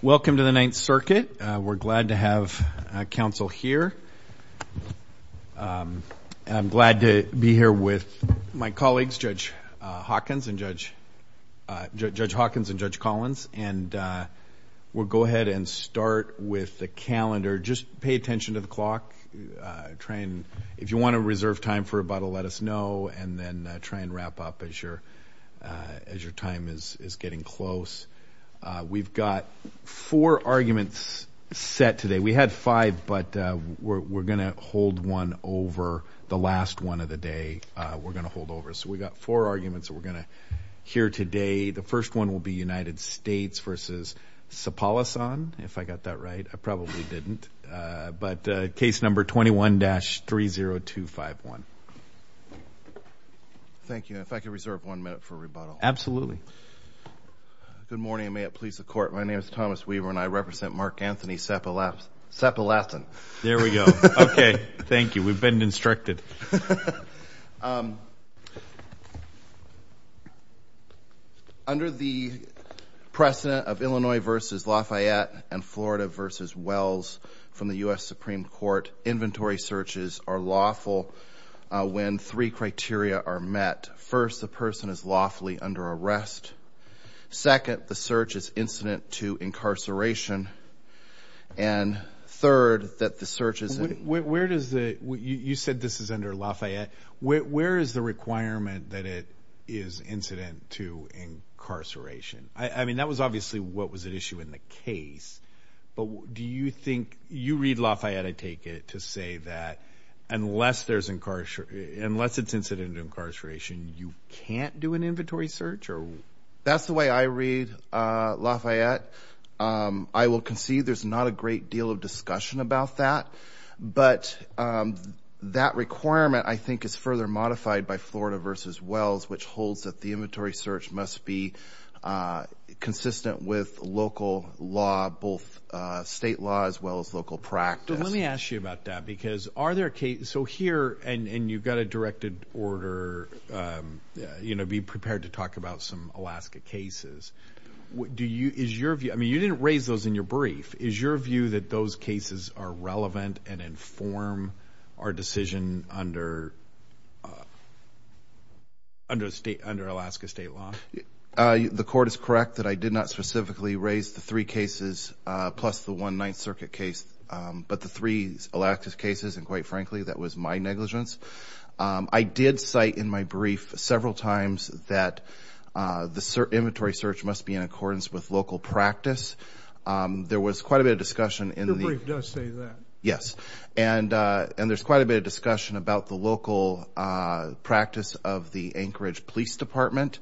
Welcome to the Ninth Circuit. We're glad to have counsel here. I'm glad to be here with my colleagues, Judge Hawkins and Judge Collins, and we'll go ahead and start with the calendar. Just pay attention to the clock. If you want to reserve time for about a let us know, and then try and wrap up as your time is getting close. We've got four arguments set today. We had five, but we're going to hold one over the last one of the day. We're going to hold over. So we've got four arguments that we're going to hear today. The first one will be United States v. Sapalasan, if I got that right. I probably didn't. But case number 21-30251. Thank you. If I could reserve one minute for rebuttal. Absolutely. Good morning and may it please the Court. My name is Thomas Weaver and I represent Markanthony Sapalasan. There we go. Okay. Thank you. We've been instructed. Under the precedent of Illinois v. Lafayette and Florida v. Wells from the U.S. Supreme Court, inventory searches are lawful when three criteria are met. First, the person is lawfully under arrest. Second, the search is incident to incarceration. And third, that the search is... You said this is under Lafayette. Where is the requirement that it is incident to incarceration? I mean, that was obviously what was at issue in the case. But do you think... You read Lafayette, I take it, to say that unless there's... Unless it's incident to incarceration, you can't do an inventory search? That's the way I read Lafayette. I will concede there's not a great deal of discussion about that. But that requirement, I think, is further modified by Florida v. Wells, which holds that the inventory search must be consistent with local law, both state law, as well as local practice. But let me ask you about that because are there cases... So here, and you've got a directed order, you know, be prepared to talk about some Alaska cases. Do you... Is your view... I mean, you didn't raise those in your brief. Is your view that those under Alaska state law? The court is correct that I did not specifically raise the three cases plus the one Ninth Circuit case. But the three Alaska cases, and quite frankly, that was my negligence. I did cite in my brief several times that the inventory search must be in accordance with local practice. There was quite a bit of discussion in the... Your brief does say that. Yes. And there's quite a bit of discussion about the local practice of the Anchorage Police Department.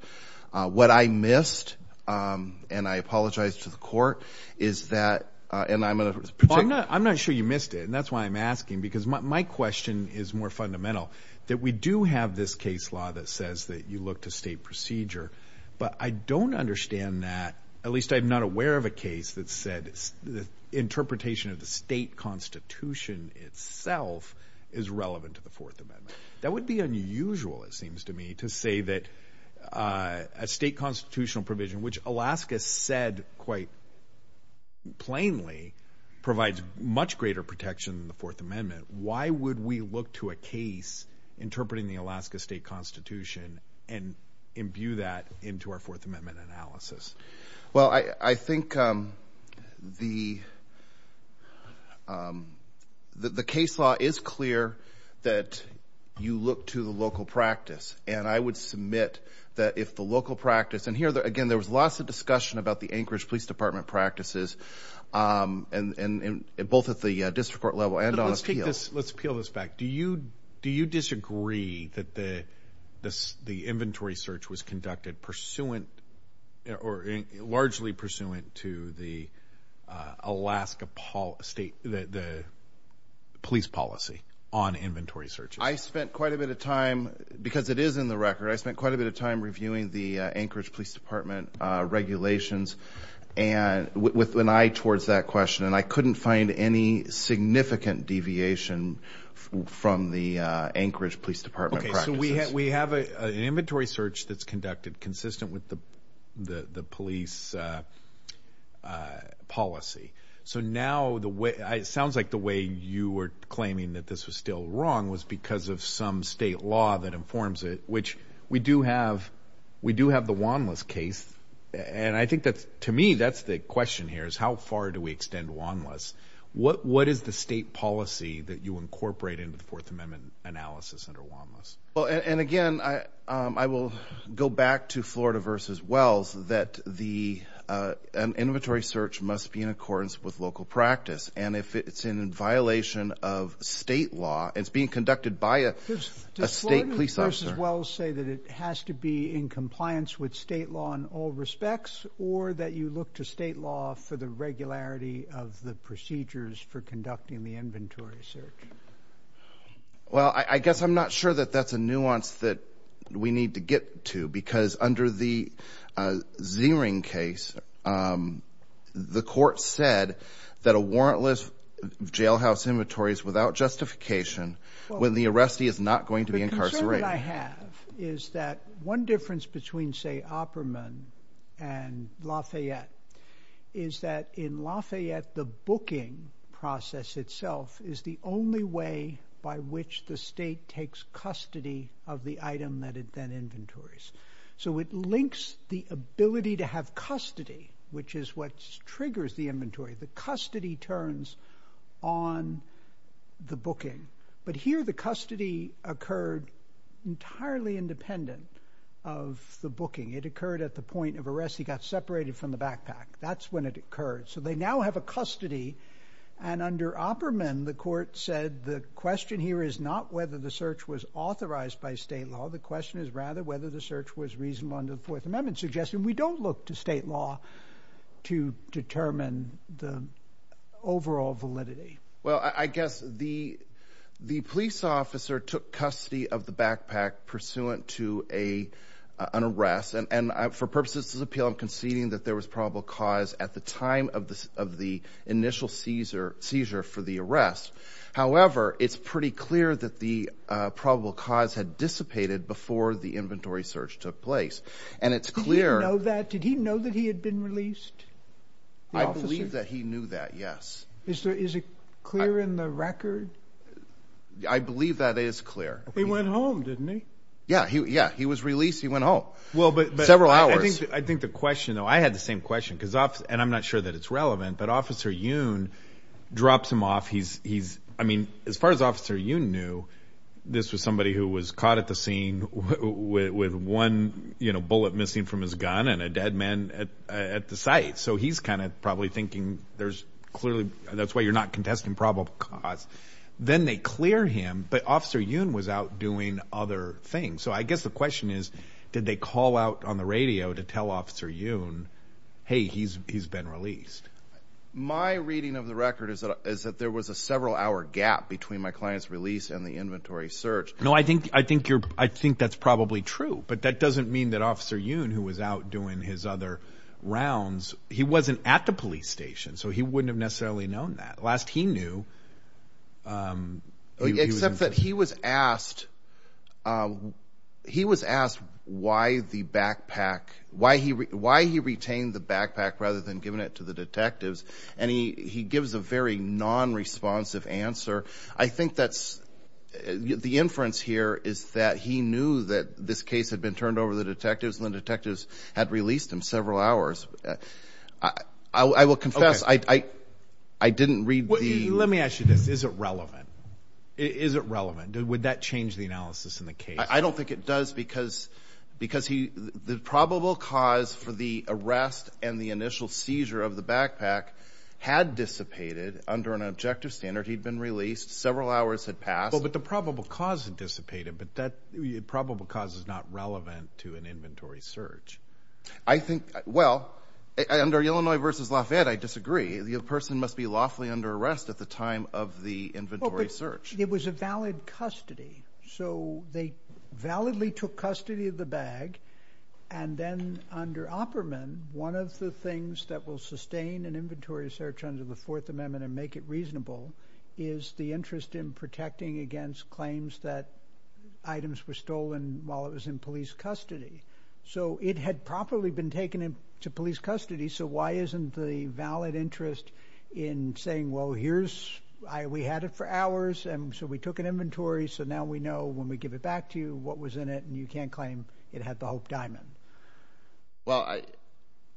What I missed, and I apologize to the court, is that... And I'm going to... I'm not sure you missed it, and that's why I'm asking. Because my question is more fundamental, that we do have this case law that says that you look to state procedure. But I don't understand that, at least I'm not of a case that said the interpretation of the state constitution itself is relevant to the Fourth Amendment. That would be unusual, it seems to me, to say that a state constitutional provision, which Alaska said quite plainly, provides much greater protection than the Fourth Amendment. Why would we look to a case interpreting the Alaska state constitution and imbue that into our Fourth Amendment analysis? Well, I think the case law is clear that you look to the local practice. And I would submit that if the local practice... And here, again, there was lots of discussion about the Anchorage Police Department practices, both at the district court level and on appeal. Let's appeal this back. Do you disagree that the inventory search was conducted largely pursuant to the Alaska police policy on inventory searches? I spent quite a bit of time, because it is in the record, I spent quite a bit of time reviewing the Anchorage Police Department regulations with an eye towards that question. And I couldn't find any significant deviation from the Anchorage Police Department practices. Okay, so we have an inventory search that's conducted consistent with the police policy. So now, it sounds like the way you were claiming that this was still wrong was because of some state law that informs it, which we do have the Wanless case. And I think that, to me, that's the question here, is how far do we extend Wanless? What is the state policy that you incorporate into the Fourth Amendment analysis under Wanless? Well, and again, I will go back to Florida v. Wells, that the inventory search must be in accordance with local practice. And if it's in violation of state law, it's being conducted by a state police officer... Does Florida v. Wells say that it has to be in compliance with state law in all respects, or that you look to state law for the regularity of the procedures for conducting the inventory search? Well, I guess I'm not sure that that's a nuance that we need to get to, because under the Ziering case, the court said that a warrantless jailhouse inventory is without justification when the arrestee is not going to be incarcerated. The concern that I have is that one difference between, say, Opperman and Lafayette is that in Lafayette, the booking process itself is the only way by which the state takes custody of the item that it then inventories. So it links the ability to have custody, which is what triggers the inventory. The custody turns on the booking. But here, the custody occurred entirely independent of the booking. It occurred at the point of arrest. He got separated from the backpack. That's when it occurred. So they now have a custody, and under Opperman, the court said the question here is not whether the search was authorized by state law. The question is rather whether the search was reasonable under the Fourth Amendment law to determine the overall validity. Well, I guess the police officer took custody of the backpack pursuant to an arrest, and for purposes of this appeal, I'm conceding that there was probable cause at the time of the initial seizure for the arrest. However, it's pretty clear that the probable cause had dissipated before the inventory search took place. And it's clear... Did he know that? Did he know that he had been released? I believe that he knew that, yes. Is it clear in the record? I believe that is clear. He went home, didn't he? Yeah, he was released. He went home. Well, but... Several hours. I think the question, though, I had the same question, and I'm not sure that it's relevant, but Officer Yoon drops him off. As far as Officer Yoon knew, this was somebody who was caught at the scene with one bullet missing from his gun and a dead man at the site. So he's probably thinking, that's why you're not contesting probable cause. Then they clear him, but Officer Yoon was out doing other things. So I guess the question is, did they call out on the radio to tell Officer Yoon, hey, he's been released? My reading of the record is that there was a several hour gap between my client's release inventory search. No, I think that's probably true. But that doesn't mean that Officer Yoon, who was out doing his other rounds, he wasn't at the police station. So he wouldn't have necessarily known that. Last he knew... Except that he was asked why he retained the backpack rather than giving it to the detectives. And he gives a very non-responsive answer. I think the inference here is that he knew that this case had been turned over to the detectives and the detectives had released him several hours. I will confess I didn't read the- Let me ask you this. Is it relevant? Is it relevant? Would that change the analysis in the case? I don't think it does because the probable cause for the arrest and the initial seizure of released several hours had passed. But the probable cause had dissipated, but that probable cause is not relevant to an inventory search. I think, well, under Illinois versus Lafayette, I disagree. The person must be lawfully under arrest at the time of the inventory search. It was a valid custody. So they validly took custody of the bag. And then under Opperman, one of the things that will sustain an interest in protecting against claims that items were stolen while it was in police custody. So it had properly been taken into police custody. So why isn't the valid interest in saying, well, here's... We had it for hours and so we took an inventory. So now we know when we give it back to you what was in it and you can't claim it had the Hope Diamond. Well,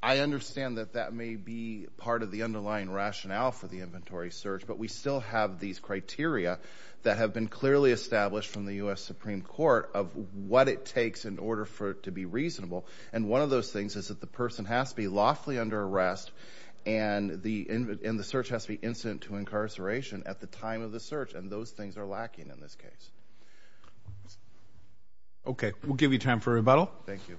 I understand that that may be part of the underlying rationale for the inventory search, but we still have these criteria that have been clearly established from the U.S. Supreme Court of what it takes in order for it to be reasonable. And one of those things is that the person has to be lawfully under arrest and the search has to be incident to incarceration at the time of the search. And those things are lacking in this case. Okay. We'll give you time for rebuttal. Thank you.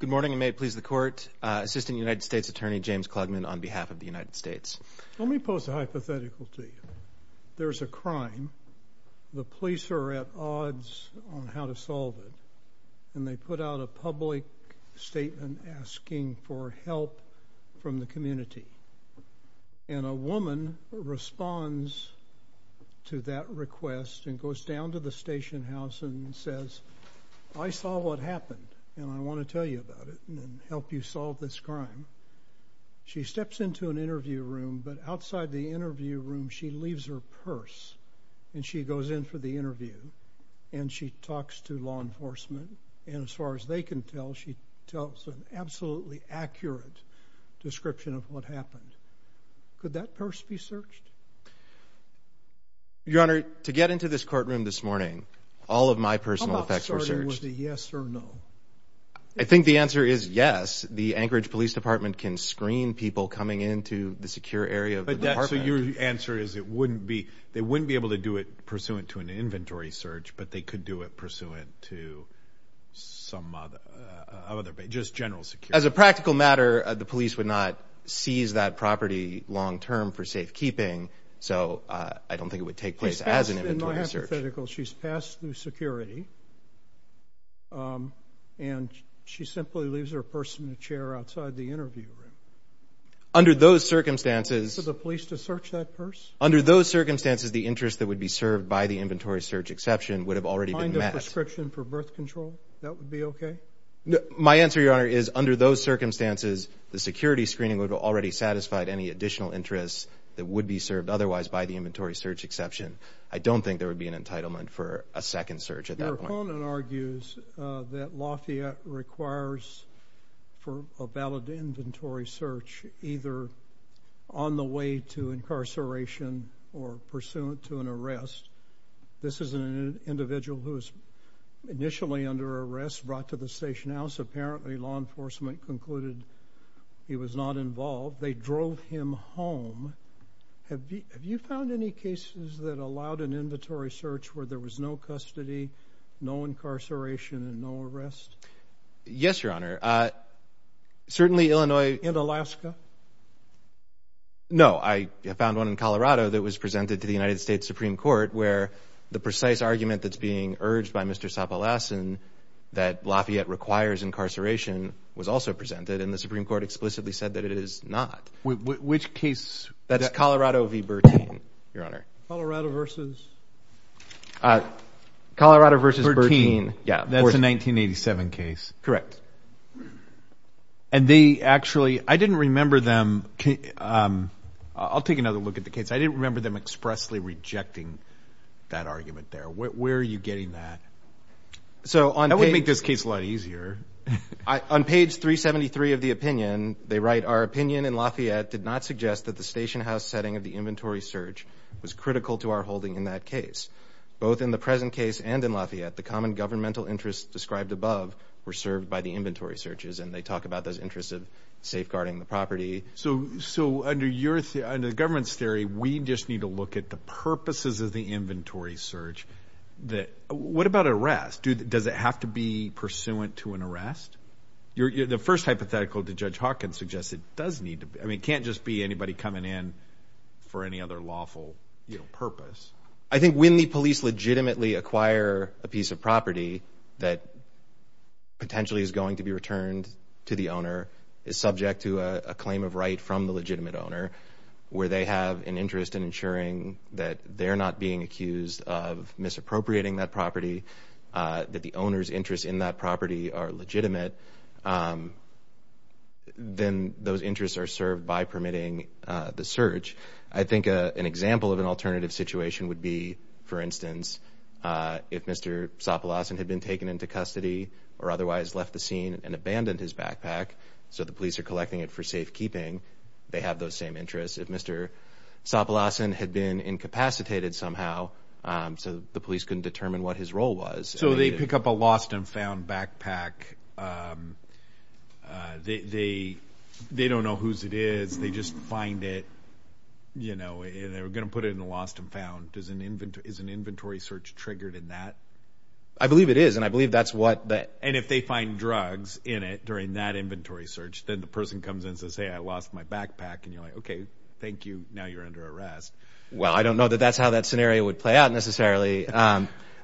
Good morning and may it please the court. Assistant United States Attorney James Klugman on behalf of the United States. Let me pose a hypothetical to you. There's a crime. The police are at odds on how to solve it. And they put out a public statement asking for help from the community. And a woman responds to that request and goes down to the station house and says, I saw what happened and I want to tell you about it and help you solve this crime. She steps into an interview room, but outside the interview room, she leaves her purse and she goes in for the interview and she talks to law enforcement. And as far as they can tell, she tells an absolutely accurate description of what happened. Could that purse be searched? Your Honor, to get into this courtroom this morning, all of my personal effects were searched. Was the yes or no? I think the answer is yes. The Anchorage Police Department can screen people coming into the secure area of the department. So your answer is it wouldn't be, they wouldn't be able to do it pursuant to an inventory search, but they could do it pursuant to some other, just general security. As a practical matter, the police would not seize that property long-term for safekeeping. So I don't think it would take place as an inventory search. She's passed through security and she simply leaves her purse in the chair outside the interview room. Under those circumstances... For the police to search that purse? Under those circumstances, the interest that would be served by the inventory search exception would have already been met. Prescription for birth control? That would be okay? My answer, Your Honor, is under those circumstances, the security screening would have already satisfied any additional interests that would be served otherwise by the inventory search exception. I don't think there would be an entitlement for a second search at that point. Your opponent argues that Lafayette requires for a valid inventory search either on the way to incarceration or pursuant to an arrest. This is an individual who was initially under arrest, brought to the station house. Apparently, law enforcement concluded he was not involved. They drove him home. Have you found any cases that allowed an inventory search where there was no custody, no incarceration, and no arrest? Yes, Your Honor. Certainly, Illinois... In Alaska? No. I found one in Colorado that was presented to the United States Supreme Court where the precise argument that's being urged by Mr. Sopelasin that Lafayette requires incarceration was also presented, and the Supreme Court explicitly said that it is not. Which case? That's Colorado v. Bertin, Your Honor. Colorado versus Bertin. That's a 1987 case. Correct. And they actually... I didn't remember them... I'll take another look at the case. I didn't remember them expressly rejecting that argument there. Where are you getting that? That would make this case a lot easier. On page 373 of the opinion, they write, our opinion in Lafayette did not suggest that the station house setting of the inventory search was critical to our holding in that case. Both in the present case and in Lafayette, the common governmental interests described above were served by the inventory searches, and they talk about those interests of safeguarding the property. So under the government's theory, we just need to look at the purposes of the inventory search. What about arrest? Does it have to be pursuant to an arrest? The first hypothetical to Judge Hawkins suggests it does need to be. It can't just be anybody coming in for any other lawful purpose. I think when the police legitimately acquire a piece of property that potentially is going to be returned to the owner, is subject to a claim of right from the legitimate owner, where they have an interest in ensuring that they're not being accused of misappropriating that property, that the owner's interests in that property are legitimate, then those would be, for instance, if Mr. Sopelasin had been taken into custody or otherwise left the scene and abandoned his backpack, so the police are collecting it for safekeeping, they have those same interests. If Mr. Sopelasin had been incapacitated somehow, so the police couldn't determine what his role was. So they pick up a lost and found backpack. They don't know whose it is. They just find it, you know, and they're going to put it in the lost and found. Is an inventory search triggered in that? I believe it is, and I believe that's what that... And if they find drugs in it during that inventory search, then the person comes in to say, I lost my backpack, and you're like, okay, thank you. Now you're under arrest. Well, I don't know that that's how that scenario would play out necessarily.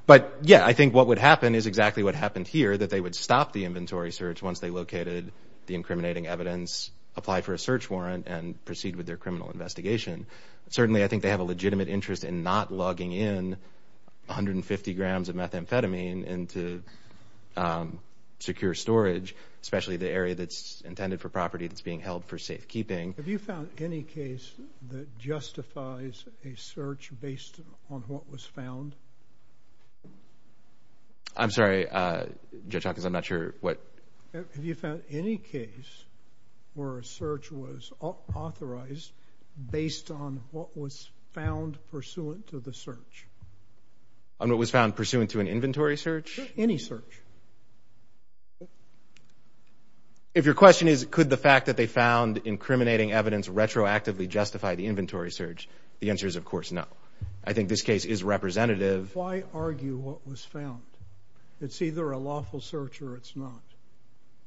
But yeah, I think what would happen is exactly what happened here, that they would stop the inventory search once they located the incriminating evidence, apply for a search warrant, and proceed with their criminal investigation. Certainly, I think they have a legitimate interest in not lugging in 150 grams of methamphetamine into secure storage, especially the area that's intended for property that's being held for safekeeping. Have you found any case that justifies a search based on what was found? I'm sorry, Judge Hawkins, I'm not sure what... Have you found any case where a search was authorized based on what was found pursuant to the search? On what was found pursuant to an inventory search? Any search. If your question is, could the fact that they found incriminating evidence retroactively justify the inventory search, the answer is, of course, no. I think this case is representative. Why argue what was found? It's either a lawful search or it's not.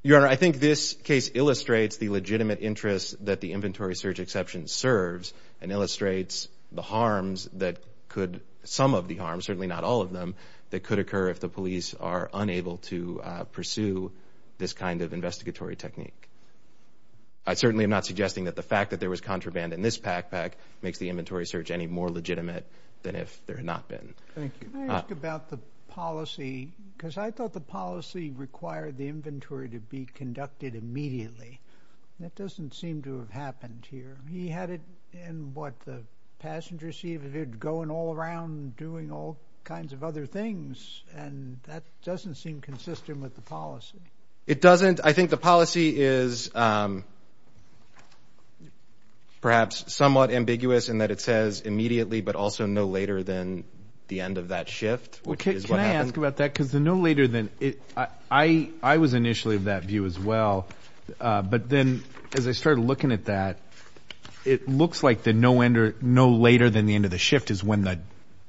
Your Honor, I think this case illustrates the legitimate interest that the inventory search exception serves and illustrates the harms that could, some of the harms, certainly not all of them, that could occur if the police are unable to pursue this kind of investigatory technique. I certainly am not suggesting that the fact that there was contraband in this backpack makes the inventory search any more legitimate than if there had not been. Thank you. Can I ask about the policy? Because I thought the policy required the inventory to be conducted immediately. That doesn't seem to have happened here. He had it in what the passenger seat of it going all around doing all kinds of other things and that doesn't seem consistent with the policy. It doesn't. I think the policy is perhaps somewhat ambiguous in that it says immediately, but also no later than the end of that shift. Can I ask about that? Because the no later than, I was initially of that view as well, but then as I started looking at that, it looks like the no later than the end of the shift is when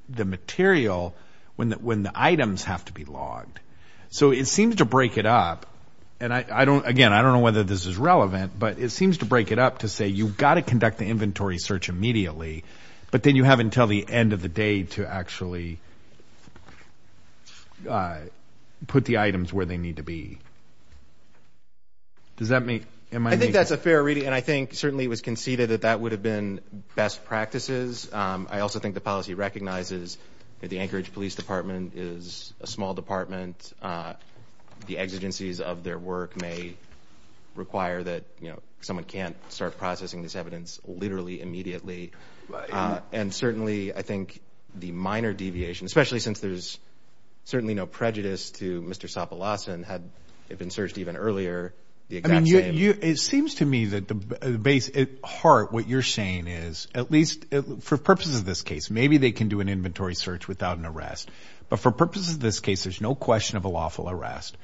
the material, when the items have to be logged. So it seems to break it up and I don't, again, I don't know whether this is relevant, but it seems to break it up to say you've got to conduct the inventory search immediately, but then you have until the end of the day to actually put the items where they need to be. Does that make? I think that's a fair reading and I think certainly it was conceded that that would have been best practices. I also think the policy recognizes that the Anchorage Police Department is a small department. The exigencies of their work may require that, you know, someone can't start processing this evidence literally immediately. And certainly I think the minor deviation, especially since there's certainly no prejudice to Mr. Sopilas and had been searched even earlier. I mean, it seems to me that the base at heart, what you're saying is at least for purposes of this case, maybe they can do an inventory search without an arrest, but for purposes of this case, there's no question of a lawful arrest.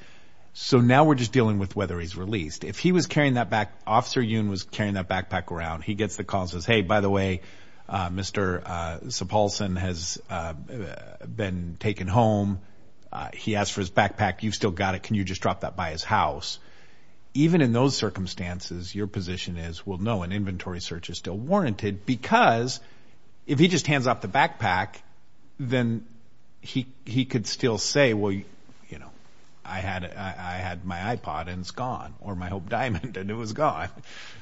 So now we're just dealing with whether he's released. If he was carrying that back, Officer Yoon was carrying that backpack around. He gets the calls and says, hey, by the way, Mr. Sopilas has been taken home. He asked for his backpack. You've still got it. Can you just drop that by his house? Even in those circumstances, your position is, well, no, an inventory search is still warranted because if he just hands off the backpack, then he could still say, well, you know, I had my iPod and it's gone or my Hope Diamond and it was gone.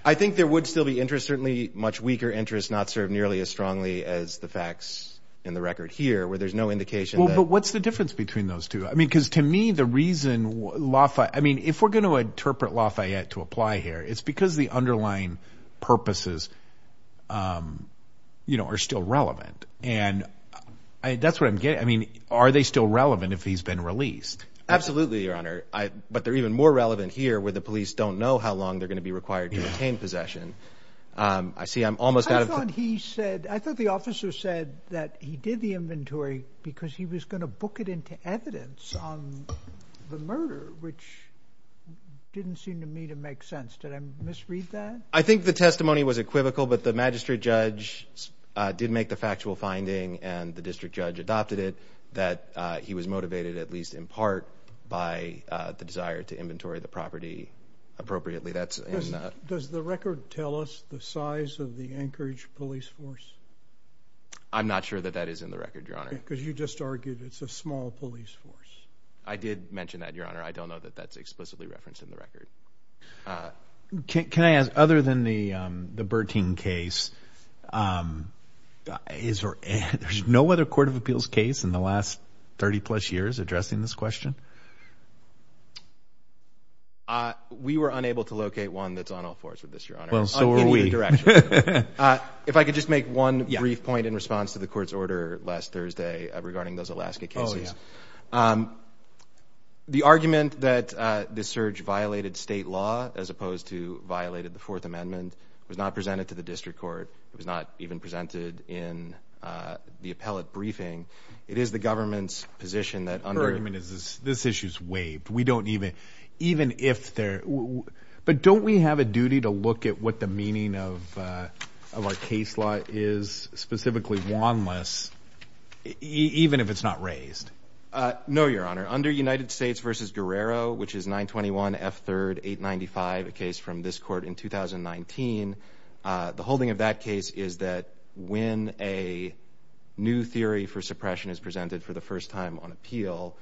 I think there would still be interest, certainly much weaker interest, not served nearly as strongly as the facts in the record here where there's no indication. But what's the difference between those two? I mean, because to me, the reason Lafayette, I mean, if we're going to interpret Lafayette to apply here, it's because the underlying purposes, you know, are still relevant. And that's what I'm getting. I mean, are they still relevant if he's been released? Absolutely, Your Honor. But they're even more relevant here where the police don't know how long they're going to be required to retain possession. I see I'm almost out of time. I thought he said, I thought the officer said that he did the inventory because he was going to book it into evidence on the murder, which didn't seem to me to make sense. Did I misread that? I think the testimony was equivocal, but the magistrate judge did make the factual finding and the district judge adopted it that he was motivated, at least in part by the desire to inventory the property appropriately. That's does the record tell us the size of the Anchorage police force? I'm not sure that that is in the record, Your Honor, because you just argued it's a small police force. I did mention that, Your Honor. I don't know that that's explicitly referenced in the record. Can I ask, other than the Bertine case, there's no other court of appeals case in the last 30 plus years addressing this question? We were unable to locate one that's on all fours for this, Your Honor. If I could just make one brief point in response to the court's order last Thursday regarding those cases. The argument that this surge violated state law as opposed to violated the Fourth Amendment was not presented to the district court. It was not even presented in the appellate briefing. It is the government's position that under... This issue is waived. We don't even... But don't we have a duty to look at what the meaning of our case law is, specifically wanless, even if it's not raised? No, Your Honor. Under United States v. Guerrero, which is 921 F3rd 895, a case from this court in 2019, the holding of that case is that when a new theory for suppression is presented for the first time on appeal,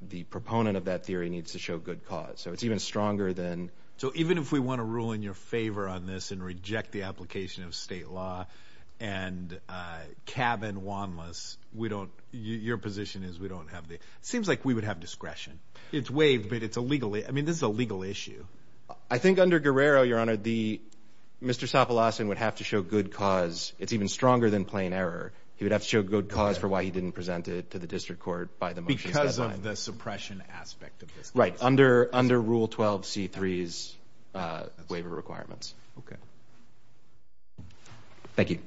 the proponent of that theory needs to show good cause. So it's even stronger than... So even if we want to rule in your favor on this and reject the application of state law and cabin wanless, we don't... Your position is we don't have the... It seems like we would have discretion. It's waived, but it's a legally... I mean, this is a legal issue. I think under Guerrero, Your Honor, Mr. Sopilas would have to show good cause. It's even stronger than plain error. He would have to show good cause for why he didn't present it to the district court by the motion... Because of the suppression aspect of this case. Right. Under Rule 12 C3's case. Thank you.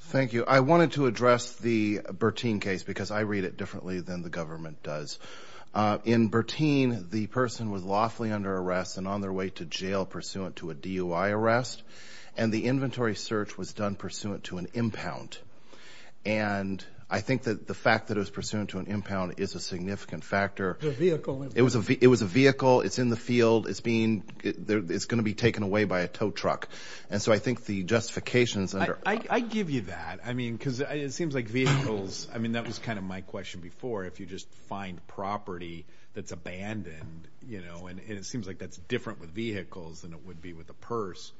Thank you. I wanted to address the Bertin case because I read it differently than the government does. In Bertin, the person was lawfully under arrest and on their way to jail pursuant to a DUI arrest. And the inventory search was done pursuant to an impound. And I think that the it was a vehicle, it's in the field, it's being... It's going to be taken away by a tow truck. And so I think the justifications under... I give you that. I mean, because it seems like vehicles... I mean, that was kind of my question before. If you just find property that's abandoned and it seems like that's different with vehicles than it would be with a purse.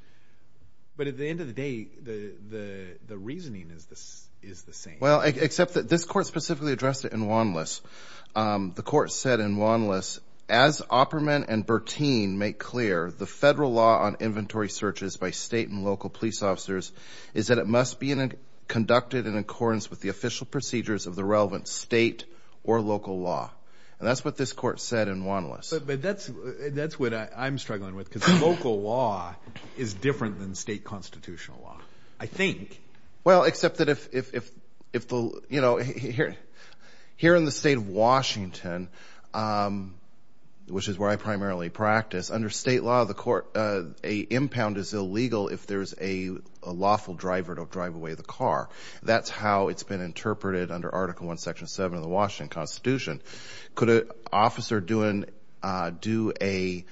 But at the end of the day, the reasoning is the same. Well, except that this court specifically addressed it in Wanlis. The court said in Wanlis, as Opperman and Bertin make clear, the federal law on inventory searches by state and local police officers is that it must be conducted in accordance with the official procedures of the relevant state or local law. And that's what this court said in Wanlis. But that's what I'm struggling with because local law is different than state constitutional law, I think. Well, except that if the... Here in the state of Washington, which is where I primarily practice, under state law, the court... An impound is illegal if there's a lawful driver to drive away the car. That's how it's been interpreted under Article 1, Section 7 of the Washington Constitution. Could an officer do a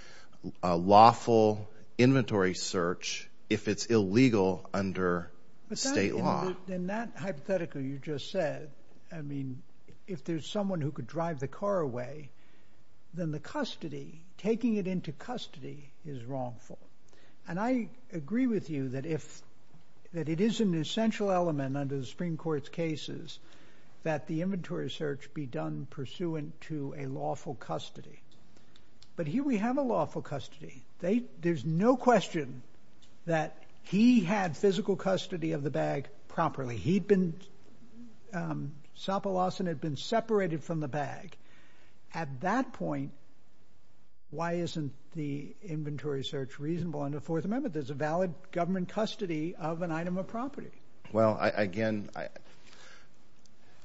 lawful inventory search if it's illegal under state law? In that hypothetical you just said, I mean, if there's someone who could drive the car away, then the custody, taking it into custody is wrongful. And I agree with you that it is an essential element under the Supreme Court's cases that the inventory search be done pursuant to a lawful custody. But here we have a lawful custody. There's no question that he had physical custody of the bag properly. He'd been... Sopolison had been separated from the bag. At that point, why isn't the inventory search reasonable under Fourth Amendment? There's a valid government custody of an item of property. Well, again,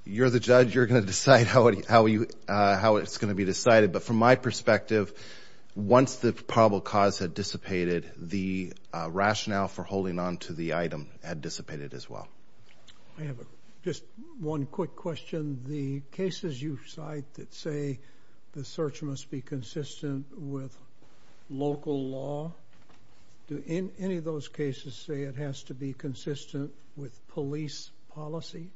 you're the judge. You're going to decide how it's going to be decided. But from my perspective, once the probable cause had dissipated, the rationale for holding on to the item had dissipated as well. I have just one quick question. The cases you cite that say the search must be consistent with local law, do any of those cases say it has to be consistent with police policy?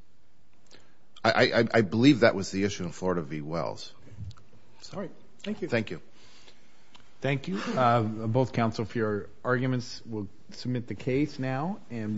I believe that was the issue in Florida v. Wells. All right. Thank you. Thank you. Thank you, both counsel for your arguments. We'll submit the case now and...